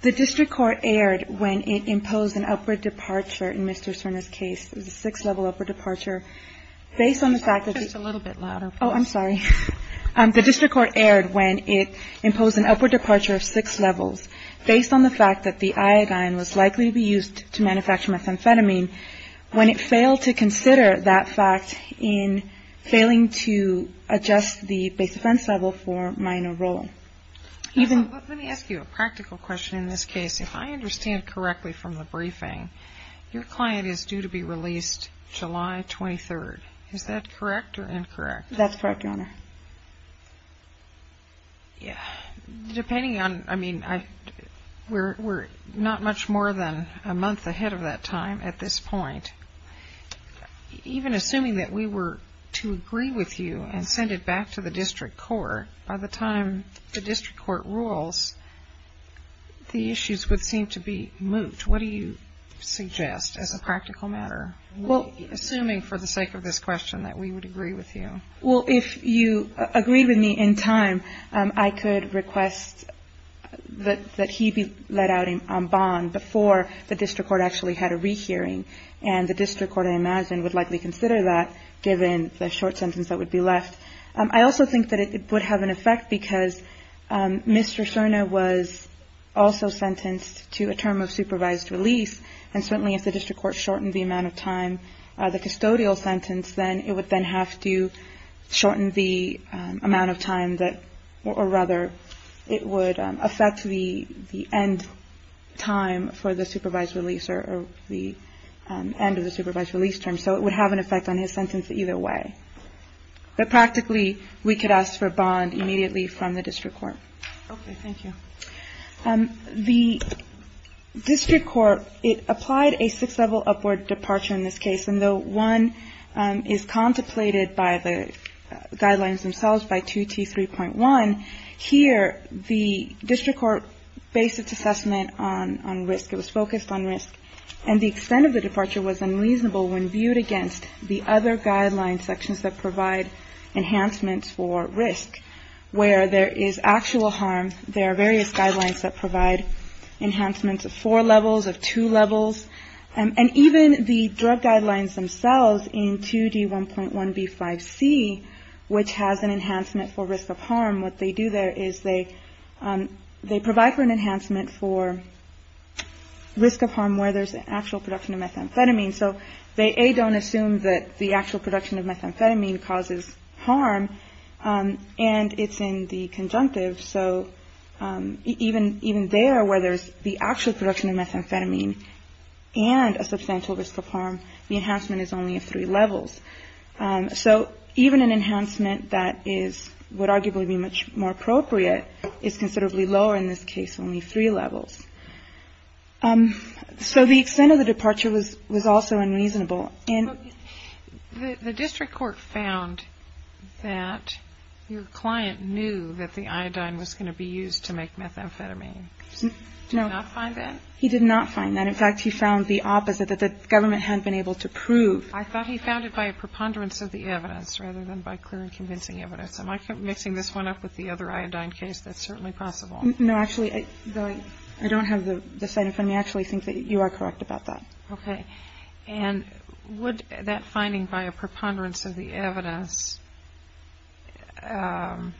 The District Court erred when it imposed an upward departure of six levels based on the fact that the iodine was likely to be used to manufacture methamphetamine, when it failed to consider that fact in failing to adjust the base defense level for minor role. Let me ask you a practical question in this case. If I understand correctly from the briefing, your client is due to be released July 23rd. Is that correct or incorrect? That's correct, Your Honor. Depending on, I mean, we're not much more than a month ahead of that time at this point. Even assuming that we were to agree with you and send it back to the District Court, by the time the District Court rules, the issues would seem to be moot. What do you suggest as a practical matter, assuming for the sake of this question that we would agree with you? Well, if you agree with me in time, I could request that he be let out on bond before the District Court actually had a rehearing. And the District Court, I imagine, would likely consider that, given the short sentence that would be left. I also think that it would have an effect because Mr. Cerna was also sentenced to a term of supervised release. And certainly if the District Court shortened the amount of time, the custodial sentence, then it would then have to shorten the amount of time that, or rather, it would affect the end time for the supervised release or the end of the supervised release term. So it would have an effect on his sentence either way. But practically, we could ask for a bond immediately from the District Court. Okay, thank you. The District Court, it applied a six-level upward departure in this case. And though one is contemplated by the guidelines themselves by 2T3.1, here the District Court based its assessment on risk. It was focused on risk. And the extent of the departure was unreasonable when viewed against the other guideline sections that provide enhancements for risk, where there is actual harm. There are various guidelines that provide enhancements of four levels, of two levels. And even the drug guidelines themselves in 2D1.1B5C, which has an enhancement for risk of harm, what they do there is they provide for an enhancement for risk of harm where there's actual production of methamphetamine. So they, A, don't assume that the actual production of methamphetamine causes harm, and it's in the conjunctive. So even there, where there's the actual production of methamphetamine and a substantial risk of harm, the enhancement is only of three levels. So even an enhancement that would arguably be much more appropriate is considerably lower in this case, only three levels. So the extent of the departure was also unreasonable. And the District Court found that your client knew that the iodine was going to be used to make methamphetamine. No. Did he not find that? He did not find that. In fact, he found the opposite, that the government hadn't been able to prove. I thought he found it by a preponderance of the evidence rather than by clear and convincing evidence. Am I mixing this one up with the other iodine case? That's certainly possible. No, actually, I don't have the sign in front of me. I actually think that you are correct about that. Okay. And would that finding by a preponderance of the evidence, wouldn't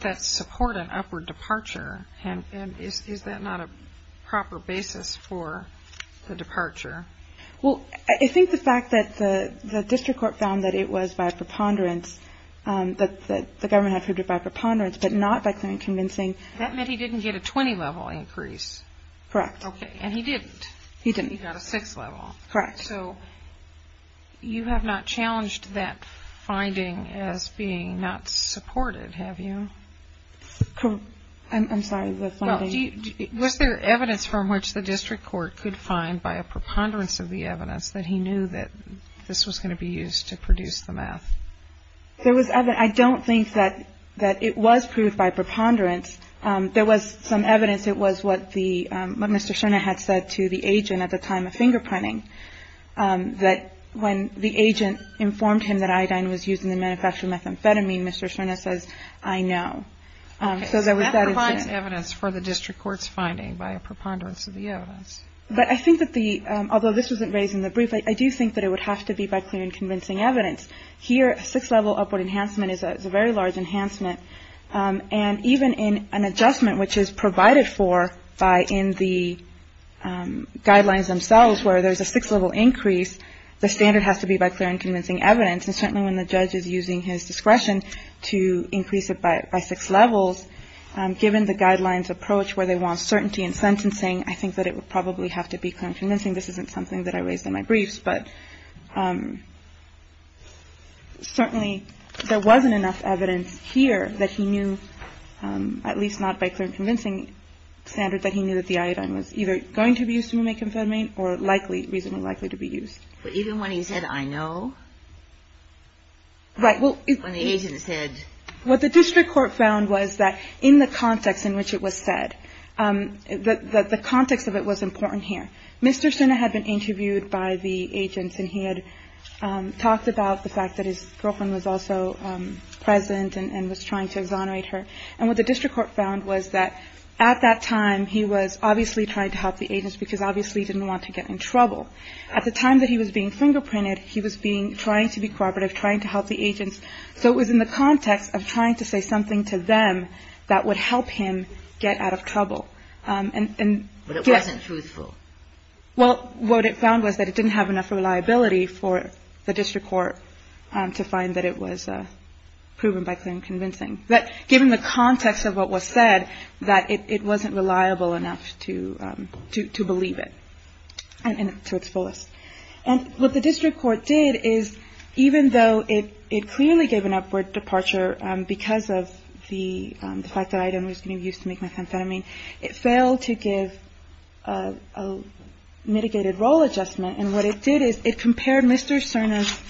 that support an upward departure? And is that not a proper basis for the departure? Well, I think the fact that the District Court found that it was by preponderance, that the government had proved it by preponderance, but not by clear and convincing. That meant he didn't get a 20-level increase. Correct. Okay. And he didn't. He didn't. He got a 6-level. Correct. So you have not challenged that finding as being not supported, have you? I'm sorry. Was there evidence from which the District Court could find by a preponderance of the evidence that he knew that this was going to be used to produce the meth? I don't think that it was proved by preponderance. There was some evidence. It was what Mr. Scherna had said to the agent at the time of fingerprinting, that when the agent informed him that iodine was used in the manufacture of methamphetamine, Mr. Scherna says, I know. That provides evidence for the District Court's finding by a preponderance of the evidence. But I think that the, although this wasn't raised in the brief, I do think that it would have to be by clear and convincing evidence. Here, a 6-level upward enhancement is a very large enhancement. And even in an adjustment which is provided for by in the guidelines themselves where there's a 6-level increase, the standard has to be by clear and convincing evidence. And certainly when the judge is using his discretion to increase it by 6 levels, given the guidelines approach where they want certainty in sentencing, I think that it would probably have to be clear and convincing. This isn't something that I raised in my briefs. But certainly there wasn't enough evidence here that he knew, at least not by clear and convincing standard, that he knew that the iodine was either going to be used to make methamphetamine or likely, reasonably likely to be used. But even when he said, I know? Right. When the agent said. What the District Court found was that in the context in which it was said, that the context of it was important here. Mr. Suna had been interviewed by the agents, and he had talked about the fact that his girlfriend was also present and was trying to exonerate her. And what the District Court found was that at that time, he was obviously trying to help the agents because obviously he didn't want to get in trouble. At the time that he was being fingerprinted, he was trying to be cooperative, trying to help the agents. So it was in the context of trying to say something to them that would help him get out of trouble. But it wasn't truthful. Well, what it found was that it didn't have enough reliability for the District Court to find that it was proven by clear and convincing. That given the context of what was said, that it wasn't reliable enough to believe it to its fullest. And what the District Court did is even though it clearly gave an upward departure because of the fact that item was going to be used to make methamphetamine, it failed to give a mitigated role adjustment. And what it did is it compared Mr. Suna's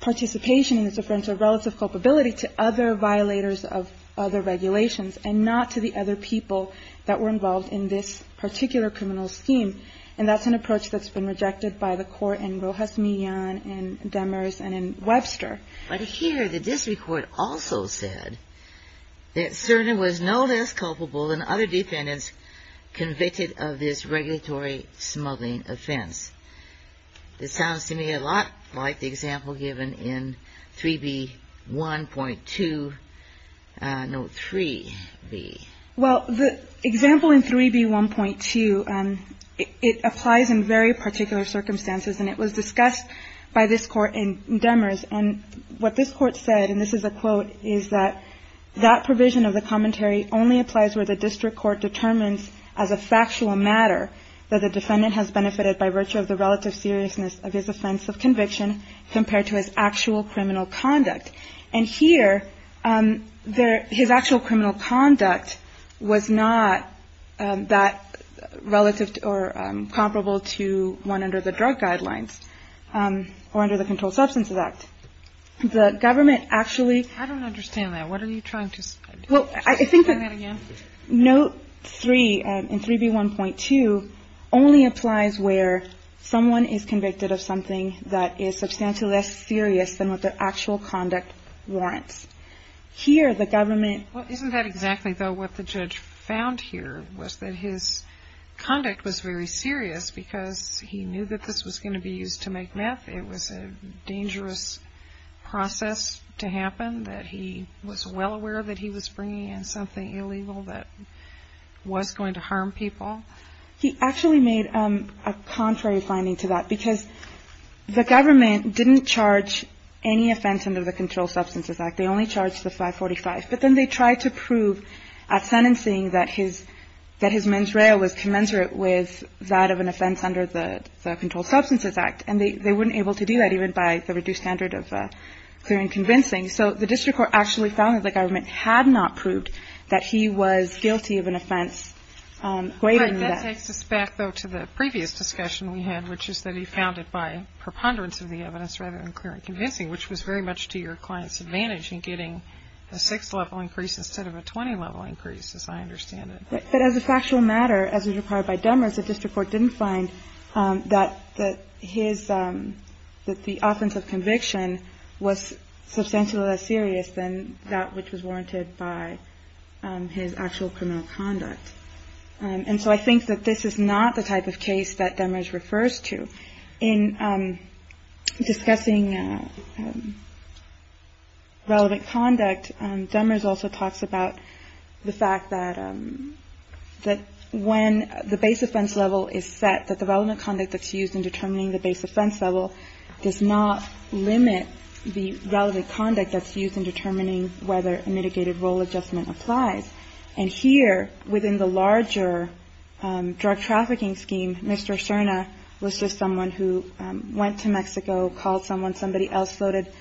participation in this offense of relative culpability to other violators of other regulations and not to the other people that were involved in this particular criminal scheme. And that's an approach that's been rejected by the Court in Rojas Millan and Demers and in Webster. But here the District Court also said that Suna was no less culpable than other defendants convicted of this regulatory smuggling offense. This sounds to me a lot like the example given in 3B1.2, no, 3B. Well, the example in 3B1.2, it applies in very particular circumstances. And it was discussed by this Court in Demers. And what this Court said, and this is a quote, is that that provision of the commentary only applies where the District Court determines as a factual matter that the defendant has benefited by virtue of the relative seriousness of his offense of conviction compared to his actual criminal conduct. And here his actual criminal conduct was not that relative or comparable to one under the Drug Guidelines or under the Controlled Substances Act. The government actually – I don't understand that. What are you trying to – Well, I think that – Can you say that again? Note 3 in 3B1.2 only applies where someone is convicted of something that is substantially less serious than what their actual conduct warrants. Here the government – Well, isn't that exactly, though, what the judge found here, was that his conduct was very serious because he knew that this was going to be used to make meth. It was a dangerous process to happen, that he was well aware that he was bringing in something illegal that was going to harm people. He actually made a contrary finding to that, because the government didn't charge any offense under the Controlled Substances Act. They only charged the 545. But then they tried to prove at sentencing that his men's rail was commensurate with that of an offense under the Controlled Substances Act. And they weren't able to do that even by the reduced standard of clear and convincing. So the District Court actually found that the government had not proved that he was guilty of an offense greater than that. All right. That takes us back, though, to the previous discussion we had, which is that he found it by preponderance of the evidence rather than clear and convincing, which was very much to your client's advantage in getting a 6-level increase instead of a 20-level increase, as I understand it. But as a factual matter, as required by Demers, the District Court didn't find that his – that the offense of conviction was substantially less serious than that which was warranted by his actual criminal conduct. And so I think that this is not the type of case that Demers refers to. In discussing relevant conduct, Demers also talks about the fact that when the base offense level is set, that the relevant conduct that's used in determining the base offense level does not limit the relevant conduct that's used in determining whether a mitigated role adjustment applies. And here, within the larger drug trafficking scheme, Mr. Cerna was just someone who went to Mexico, called someone, somebody else loaded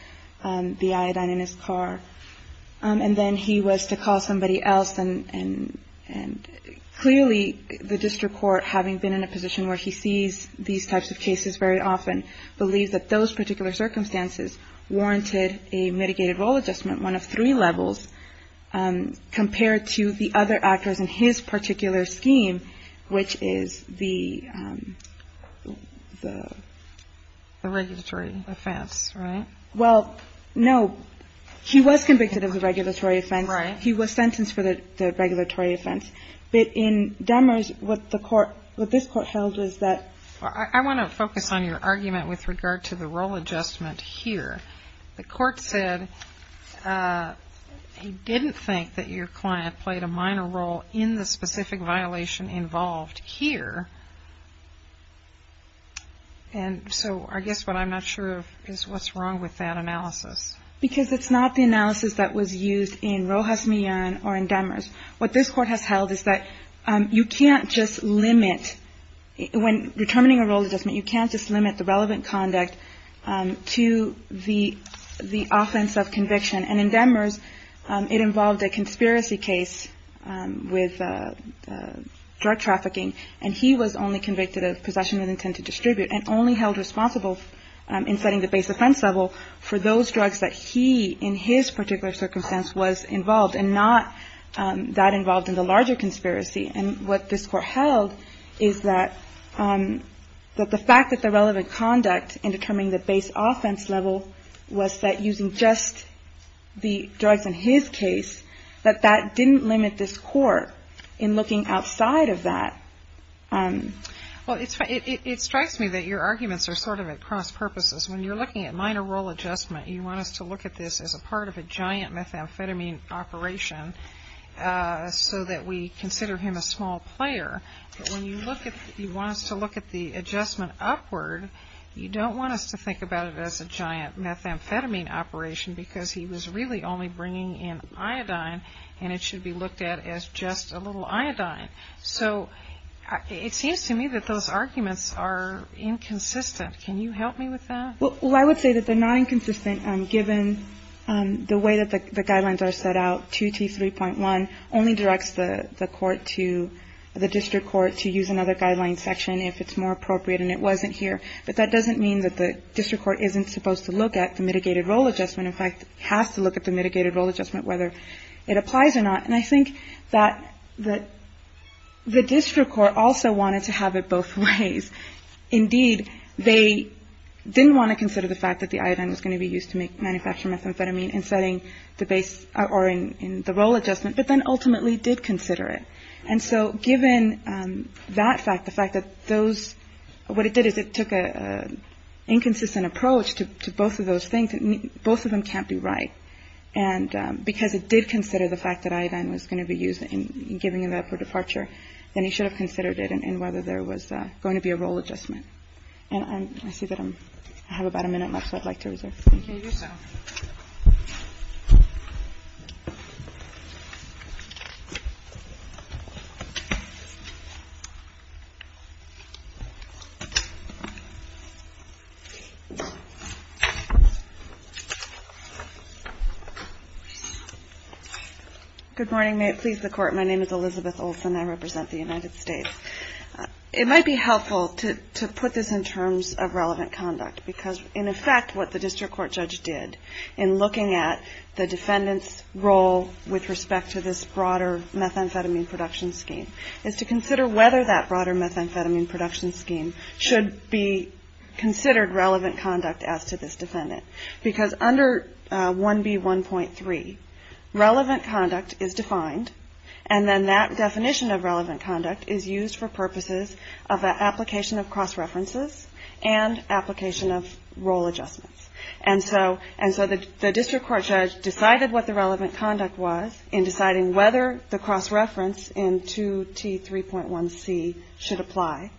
the iodine in his car, and then he was to call somebody else. And clearly, the District Court, having been in a position where he sees these types of cases very often, believes that those particular circumstances warranted a mitigated role adjustment, one of three levels, compared to the other actors in his particular scheme, which is the – the – The regulatory offense, right? Well, no. He was convicted of the regulatory offense. Right. He was sentenced for the regulatory offense. But in Demers, what the court – what this Court held was that – I want to focus on your argument with regard to the role adjustment here. The court said he didn't think that your client played a minor role in the specific violation involved here. And so I guess what I'm not sure of is what's wrong with that analysis. Because it's not the analysis that was used in Rojas Millan or in Demers. What this Court has held is that you can't just limit – when determining a role adjustment, you can't just limit the relevant conduct to the – the offense of conviction. And in Demers, it involved a conspiracy case with drug trafficking, and he was only convicted of possession with intent to distribute, and only held responsible in setting the base offense level for those drugs that he, in his particular circumstance, was involved, and not that involved in the larger conspiracy. And what this Court held is that – that the fact that the relevant conduct in determining the base offense level was that using just the drugs in his case, that that didn't limit this Court in looking outside of that. Well, it's – it strikes me that your arguments are sort of at cross-purposes. When you're looking at minor role adjustment, you want us to look at this as a part of a giant methamphetamine operation so that we consider him a small player. But when you look at – you want us to look at the adjustment upward, you don't want us to think about it as a giant methamphetamine operation because he was really only bringing in iodine, and it should be looked at as just a little iodine. So it seems to me that those arguments are inconsistent. Can you help me with that? Well, I would say that they're not inconsistent given the way that the guidelines are set out. 2T3.1 only directs the court to – the district court to use another guideline section if it's more appropriate, and it wasn't here. But that doesn't mean that the district court isn't supposed to look at the mitigated role adjustment. In fact, it has to look at the mitigated role adjustment, whether it applies or not. And I think that the district court also wanted to have it both ways. Indeed, they didn't want to consider the fact that the iodine was going to be used to manufacture methamphetamine in setting the base – or in the role adjustment, but then ultimately did consider it. And so given that fact, the fact that those – what it did is it took an inconsistent approach to both of those things. Both of them can't be right. And because it did consider the fact that iodine was going to be used in giving it up for departure, then it should have considered it and whether there was going to be a role adjustment. And I see that I'm – I have about a minute left, so I'd like to reserve. You may do so. Good morning. May it please the Court, my name is Elizabeth Olson. I represent the United States. It might be helpful to put this in terms of relevant conduct, because in effect what the district court judge did in looking at the defendant's role with respect to this broader methamphetamine production scheme is to consider whether that broader methamphetamine production scheme should be considered relevant conduct as to this defendant. Because under 1B1.3, relevant conduct is defined, and then that definition of relevant conduct is used for purposes of application of cross-references and application of role adjustments. And so the district court judge decided what the relevant conduct was in deciding whether the cross-reference in 2T3.1c should apply,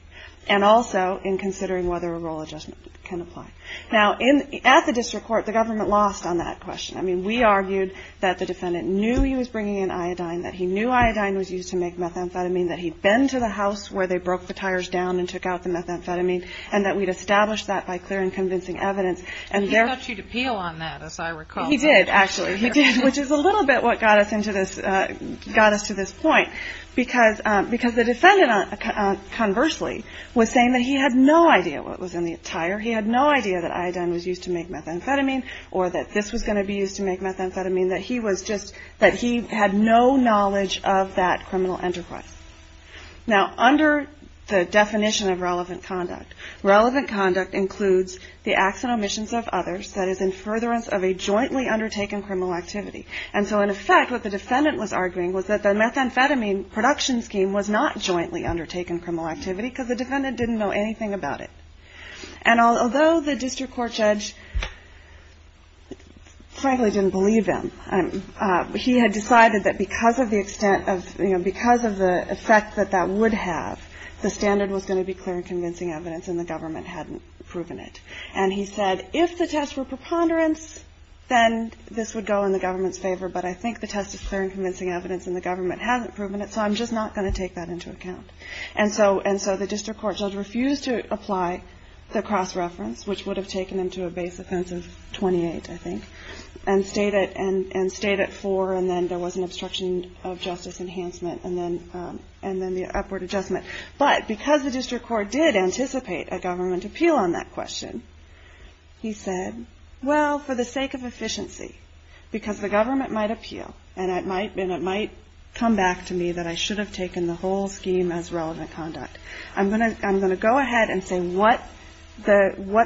and also in considering whether a role adjustment can apply. Now, at the district court, the government lost on that question. I mean, we argued that the defendant knew he was bringing in iodine, that he knew iodine was used to make methamphetamine, that he'd been to the house where they broke the tires down and took out the methamphetamine, and that we'd established that by clear and convincing evidence. And he got you to peel on that, as I recall. He did, actually. He did, which is a little bit what got us to this point. Because the defendant, conversely, was saying that he had no idea what was in the tire, he had no idea that iodine was used to make methamphetamine, or that this was going to be used to make methamphetamine, that he had no knowledge of that criminal enterprise. Now, under the definition of relevant conduct, relevant conduct includes the acts and omissions of others that is in furtherance of a jointly undertaken criminal activity. And so, in effect, what the defendant was arguing was that the methamphetamine production scheme was not jointly undertaken criminal activity because the defendant didn't know anything about it. And although the district court judge, frankly, didn't believe him, he had decided that because of the extent of, you know, because of the effect that that would have, the standard was going to be clear and convincing evidence, and the government hadn't proven it. And he said, if the tests were preponderance, then this would go in the government's favor, but I think the test is clear and convincing evidence, and the government hasn't proven it, so I'm just not going to take that into account. And so the district court judge refused to apply the cross-reference, which would have taken him to a base offense of 28, I think, and stayed at 4, and then there was an obstruction of justice enhancement, and then the upward adjustment. But because the district court did anticipate a government appeal on that question, he said, well, for the sake of efficiency, because the government might appeal, and it might come back to me that I should have taken the whole scheme as relevant conduct. I'm going to go ahead and say what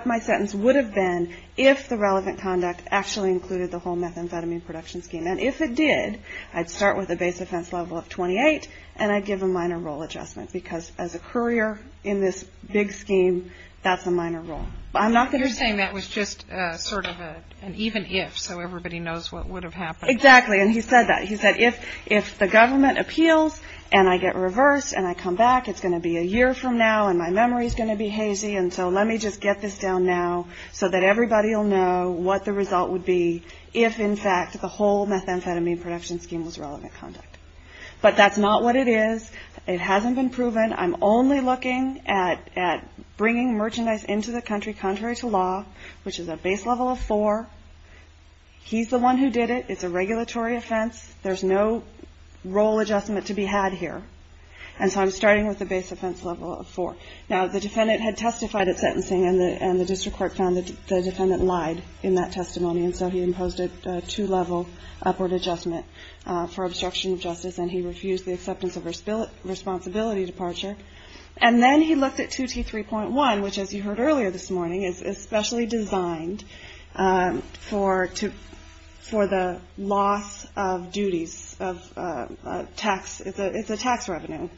my sentence would have been if the relevant conduct actually included the whole methamphetamine production scheme. And if it did, I'd start with a base offense level of 28, and I'd give a minor role adjustment, because as a courier in this big scheme, that's a minor role. But I'm not going to do that. You're saying that was just sort of an even if, so everybody knows what would have happened. Exactly, and he said that. He said if the government appeals, and I get reversed, and I come back, it's going to be a year from now, and my memory is going to be hazy, and so let me just get this down now so that everybody will know what the result would be if, in fact, the whole methamphetamine production scheme was relevant conduct. But that's not what it is. It hasn't been proven. I'm only looking at bringing merchandise into the country contrary to law, which is a base level of 4. He's the one who did it. It's a regulatory offense. There's no role adjustment to be had here, and so I'm starting with a base offense level of 4. Now, the defendant had testified at sentencing, and the district court found that the defendant lied in that testimony, and so he imposed a two-level upward adjustment for obstruction of justice, and he refused the acceptance of responsibility departure. And then he looked at 2T3.1, which, as you heard earlier this morning, is especially designed for the loss of duties of tax. It's a tax revenue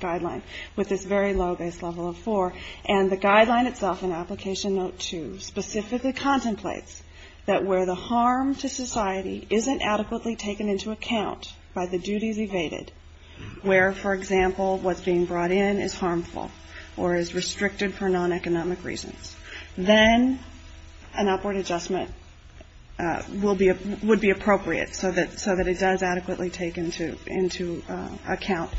guideline with this very low base level of 4, and the guideline itself in Application Note 2 specifically contemplates that where the harm to society isn't adequately taken into account by the duties evaded, where, for example, what's being brought in is harmful or is restricted for non-economic reasons, then an upward adjustment would be appropriate so that it does adequately take into account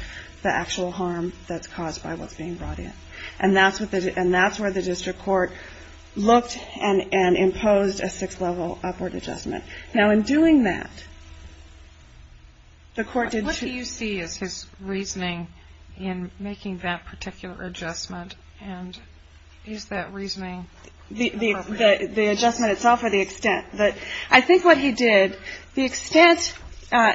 the actual harm that's caused by what's being brought in. And that's where the district court looked and imposed a six-level upward adjustment. Now, in doing that, the court did see his reasoning in making that particular adjustment, and is that reasoning appropriate? The adjustment itself or the extent. I think what he did, the extent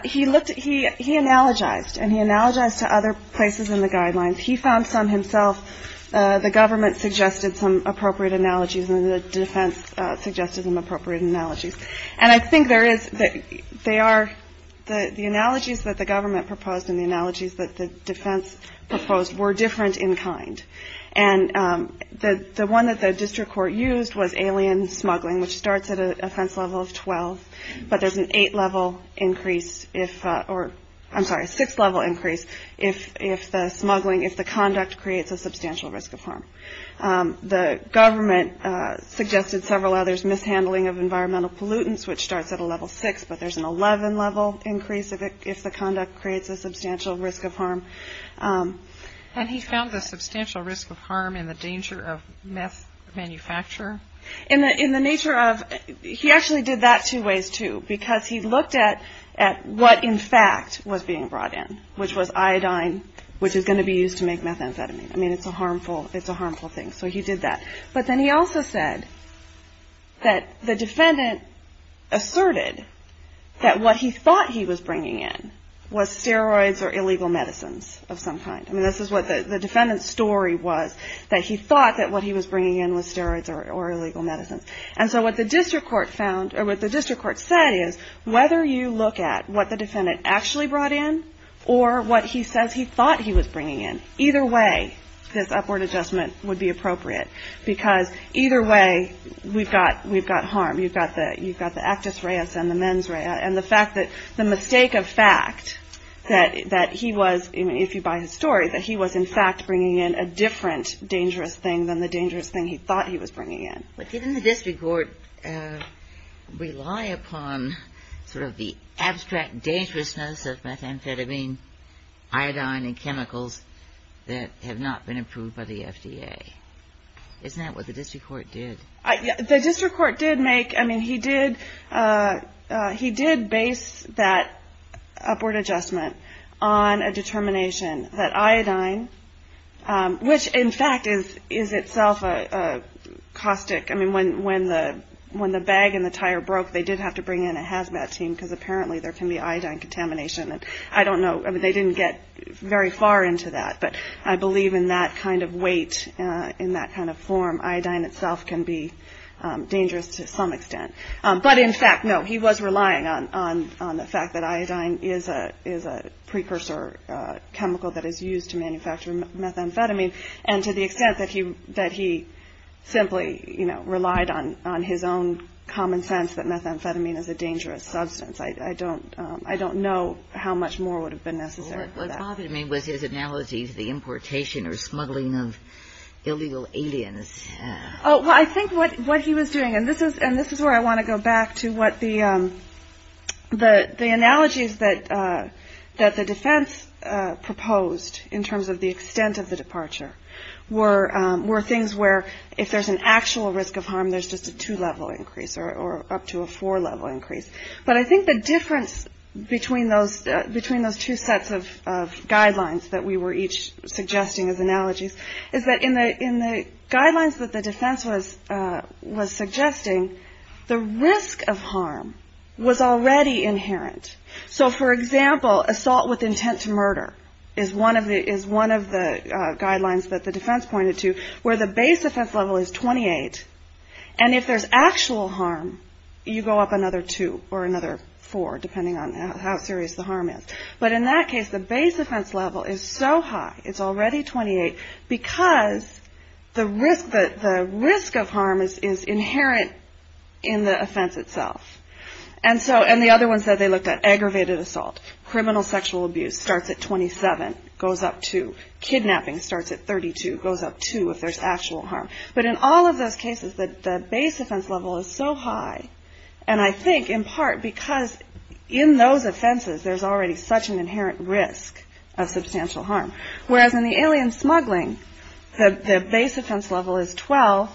he looked at, he analogized, and he analogized to other places in the guidelines. He found some himself. The government suggested some appropriate analogies, and the defense suggested some appropriate analogies. And I think there is, they are, the analogies that the government proposed and the analogies that the defense proposed were different in kind. And the one that the district court used was alien smuggling, which starts at an offense level of 12, but there's an eight-level increase if, or I'm sorry, a six-level increase if the smuggling, The government suggested several others, mishandling of environmental pollutants, which starts at a level six, but there's an 11-level increase if the conduct creates a substantial risk of harm. And he found the substantial risk of harm in the danger of meth manufacture? In the nature of, he actually did that two ways, too, because he looked at what, in fact, was being brought in, which was iodine, which is going to be used to make methamphetamine. I mean, it's a harmful thing, so he did that. But then he also said that the defendant asserted that what he thought he was bringing in was steroids or illegal medicines of some kind. I mean, this is what the defendant's story was, that he thought that what he was bringing in was steroids or illegal medicines. And so what the district court found, or what the district court said, is whether you look at what the defendant actually brought in or what he says he thought he was bringing in, either way this upward adjustment would be appropriate because either way we've got harm. You've got the actus reus and the mens rea, and the fact that the mistake of fact that he was, if you buy his story, that he was, in fact, bringing in a different dangerous thing than the dangerous thing he thought he was bringing in. But didn't the district court rely upon sort of the abstract dangerousness of methamphetamine, iodine, and chemicals that have not been approved by the FDA? Isn't that what the district court did? The district court did make, I mean, he did base that upward adjustment on a determination that iodine, which in fact is itself a caustic, I mean, when the bag and the tire broke they did have to bring in a hazmat team because apparently there can be iodine contamination, and I don't know, they didn't get very far into that, but I believe in that kind of weight, in that kind of form, iodine itself can be dangerous to some extent. But in fact, no, he was relying on the fact that iodine is a precursor chemical that is used to manufacture methamphetamine, and to the extent that he simply relied on his own common sense that methamphetamine is a dangerous substance, I don't know how much more would have been necessary for that. What bothered me was his analogy to the importation or smuggling of illegal aliens. Oh, well, I think what he was doing, and this is where I want to go back to what the analogies that the defense proposed in terms of the extent of the departure were things where if there's an actual risk of harm there's just a two-level increase or up to a four-level increase. But I think the difference between those two sets of guidelines that we were each suggesting as analogies is that in the guidelines that the defense was suggesting, the risk of harm was already inherent. So, for example, assault with intent to murder is one of the guidelines that the defense pointed to where the base offense level is 28, and if there's actual harm, you go up another two or another four, depending on how serious the harm is. But in that case, the base offense level is so high, it's already 28, because the risk of harm is inherent in the offense itself. And the other one said they looked at aggravated assault. Criminal sexual abuse starts at 27, goes up two. But in all of those cases, the base offense level is so high, and I think in part because in those offenses there's already such an inherent risk of substantial harm. Whereas in the alien smuggling, the base offense level is 12.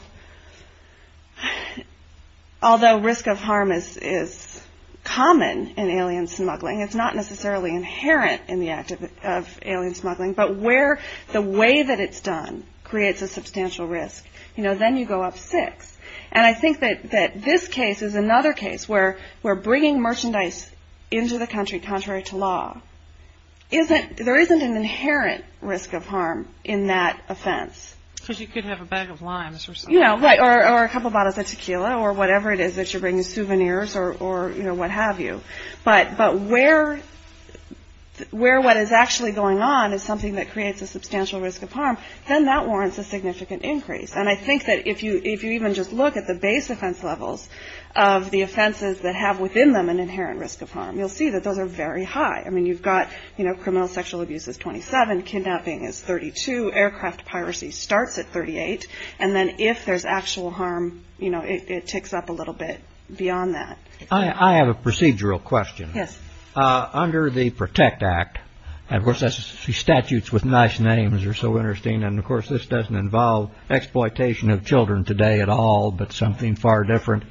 Although risk of harm is common in alien smuggling, it's not necessarily inherent in the act of alien smuggling, but where the way that it's done creates a substantial risk. You know, then you go up six. And I think that this case is another case where bringing merchandise into the country contrary to law, there isn't an inherent risk of harm in that offense. Because you could have a bag of limes or something. You know, or a couple bottles of tequila or whatever it is that you're bringing, souvenirs or, you know, what have you. But where what is actually going on is something that creates a substantial risk of harm, then that warrants a significant increase. And I think that if you even just look at the base offense levels of the offenses that have within them an inherent risk of harm, you'll see that those are very high. I mean, you've got, you know, criminal sexual abuse is 27. Kidnapping is 32. Aircraft piracy starts at 38. And then if there's actual harm, you know, it ticks up a little bit beyond that. I have a procedural question. Yes. Under the PROTECT Act, and, of course, the statutes with nice names are so interesting, and, of course, this doesn't involve exploitation of children today at all, but something far different.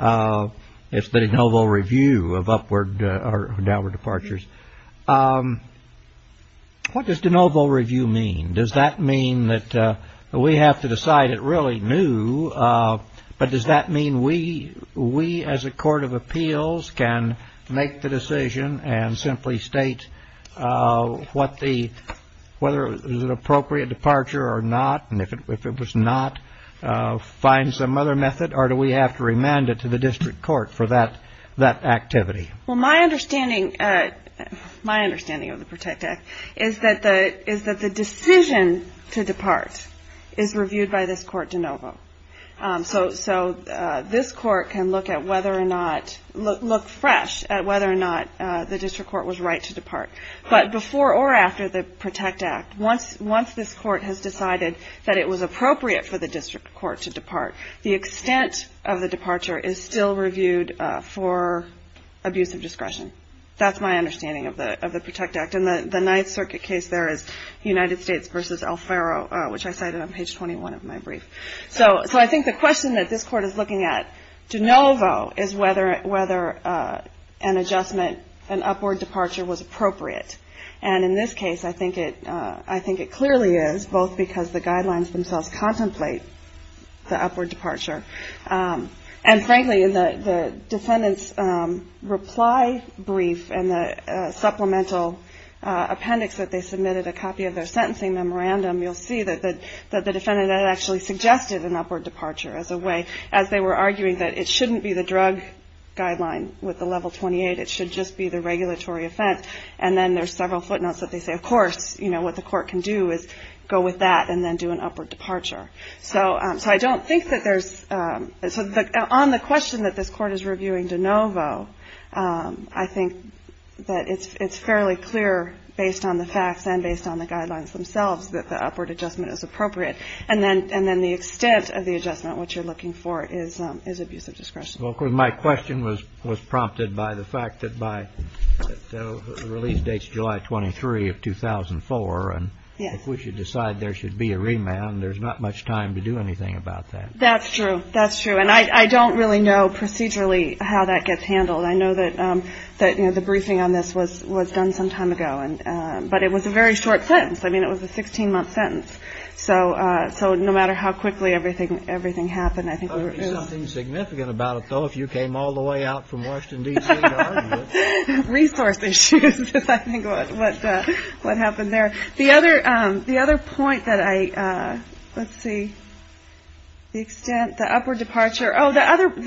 It's the de novo review of upward or downward departures. What does de novo review mean? Does that mean that we have to decide it really new? But does that mean we, as a court of appeals, can make the decision and simply state whether it was an appropriate departure or not, and if it was not, find some other method, or do we have to remand it to the district court for that activity? Well, my understanding of the PROTECT Act is that the decision to depart is reviewed by this court de novo. So this court can look fresh at whether or not the district court was right to depart. But before or after the PROTECT Act, once this court has decided that it was appropriate for the district court to depart, the extent of the departure is still reviewed for abuse of discretion. That's my understanding of the PROTECT Act. And the Ninth Circuit case there is United States v. Alfaro, which I cited on page 21 of my brief. So I think the question that this court is looking at de novo is whether an adjustment, an upward departure, was appropriate. And in this case, I think it clearly is, both because the guidelines themselves contemplate the upward departure. And frankly, in the defendant's reply brief and the supplemental appendix that they submitted, a copy of their sentencing memorandum, you'll see that the defendant had actually suggested an upward departure as a way, as they were arguing that it shouldn't be the drug guideline with the level 28, it should just be the regulatory offense. And then there's several footnotes that they say, of course, you know, what the court can do is go with that and then do an upward departure. So I don't think that there's – so on the question that this court is reviewing de novo, I think that it's fairly clear, based on the facts and based on the guidelines themselves, that the upward adjustment is appropriate. And then the extent of the adjustment, what you're looking for, is abuse of discretion. Well, my question was prompted by the fact that by – the release dates July 23 of 2004. Yes. And if we should decide there should be a remand, there's not much time to do anything about that. That's true. That's true. And I don't really know procedurally how that gets handled. I know that, you know, the briefing on this was done some time ago, but it was a very short sentence. I mean, it was a 16-month sentence. So no matter how quickly everything happened, I think we were – There would be something significant about it, though, if you came all the way out from Washington, D.C. to argue it. Resource issues is, I think, what happened there. The other point that I – let's see. The extent – the upward departure – oh, the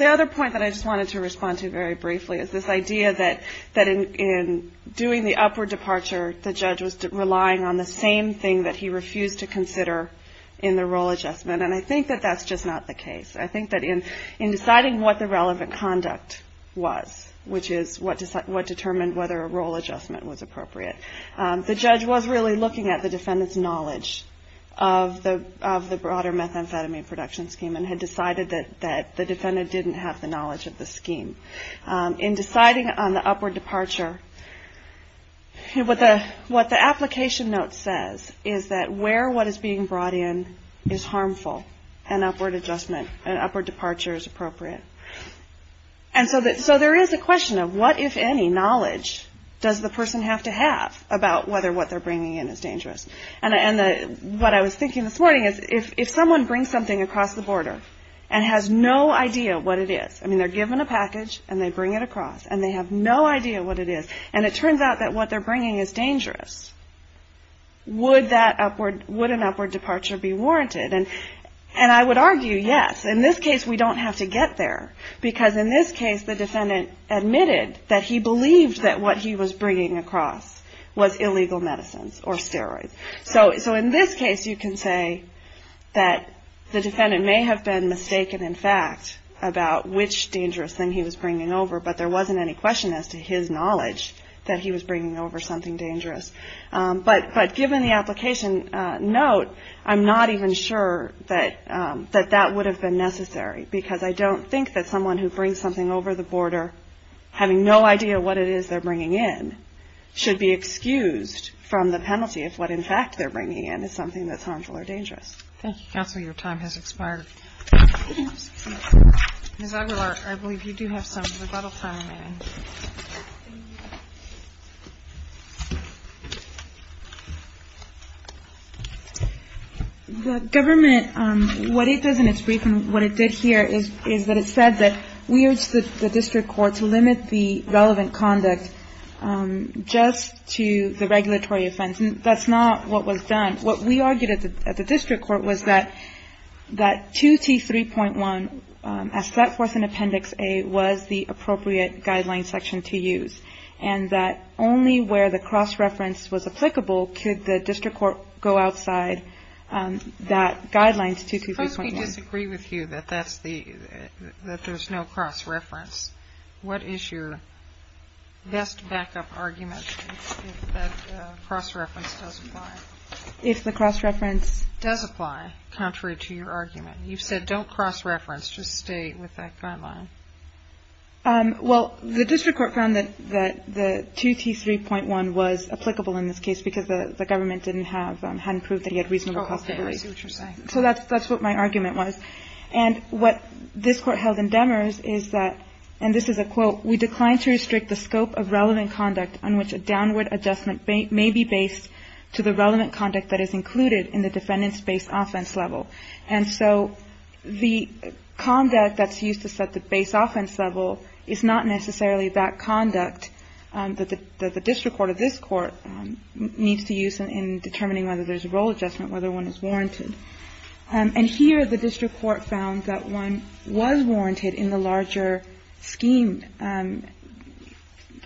other point that I just wanted to respond to very briefly is this idea that in doing the upward departure, the judge was relying on the same thing that he refused to consider in the role adjustment. And I think that that's just not the case. I think that in deciding what the relevant conduct was, which is what determined whether a role adjustment was appropriate, the judge was really looking at the defendant's knowledge of the broader methamphetamine production scheme and had decided that the defendant didn't have the knowledge of the scheme. In deciding on the upward departure, what the application note says is that where what is being brought in is harmful, an upward adjustment, an upward departure is appropriate. And so there is a question of what, if any, knowledge does the person have to have about whether what they're bringing in is dangerous. And what I was thinking this morning is if someone brings something across the border and has no idea what it is – I mean, they're given a package, and they bring it across, and they have no idea what it is, and it turns out that what they're bringing is dangerous, would that upward – would an upward departure be warranted? And I would argue yes. In this case, we don't have to get there, because in this case, the defendant admitted that he believed that what he was bringing across was illegal medicines or steroids. So in this case, you can say that the defendant may have been mistaken, in fact, about which dangerous thing he was bringing over, but there wasn't any question as to his knowledge that he was bringing over something dangerous. But given the application note, I'm not even sure that that would have been necessary, because I don't think that someone who brings something over the border having no idea what it is they're bringing in should be excused from the penalty if what, in fact, they're bringing in is something that's harmful or dangerous. Thank you, counsel. Your time has expired. Ms. Aguilar, I believe you do have some rebuttal time remaining. The government – what it does in its briefing, what it did here, is that it said that we urge the district court to limit the relevant conduct just to the regulatory offense. That's not what was done. What we argued at the district court was that 2T3.1, as set forth in Appendix A, was the appropriate guideline section to use, and that only where the cross-reference was applicable could the district court go outside that guideline to 2T3.1. Suppose we disagree with you that that's the – that there's no cross-reference. What is your best backup argument if that cross-reference does apply? If the cross-reference does apply, contrary to your argument. You've said don't cross-reference, just stay with that guideline. Well, the district court found that the 2T3.1 was applicable in this case because the government didn't have – hadn't proved that he had reasonable possibilities. Oh, okay. I see what you're saying. So that's what my argument was. And what this court held in Demers is that, and this is a quote, we declined to restrict the scope of relevant conduct on which a downward adjustment may be based to the relevant conduct that is included in the defendant's base offense level. And so the conduct that's used to set the base offense level is not necessarily that conduct that the district court of this court needs to use in determining whether there's a role adjustment, whether one is warranted. And here the district court found that one was warranted in the larger scheme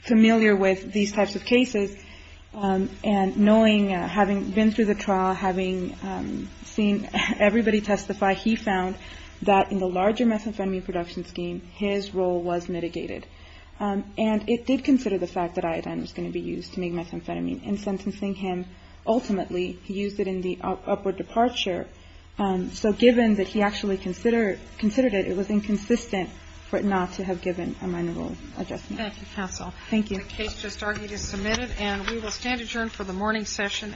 familiar with these types of cases. And knowing, having been through the trial, having seen everybody testify, he found that in the larger methamphetamine production scheme, his role was mitigated. And it did consider the fact that iodine was going to be used to make methamphetamine. And sentencing him, ultimately, he used it in the upward departure. So given that he actually considered it, it was inconsistent for it not to have given a minor role adjustment. Thank you, counsel. Thank you. The case just argued is submitted. And we will stand adjourned for the morning session.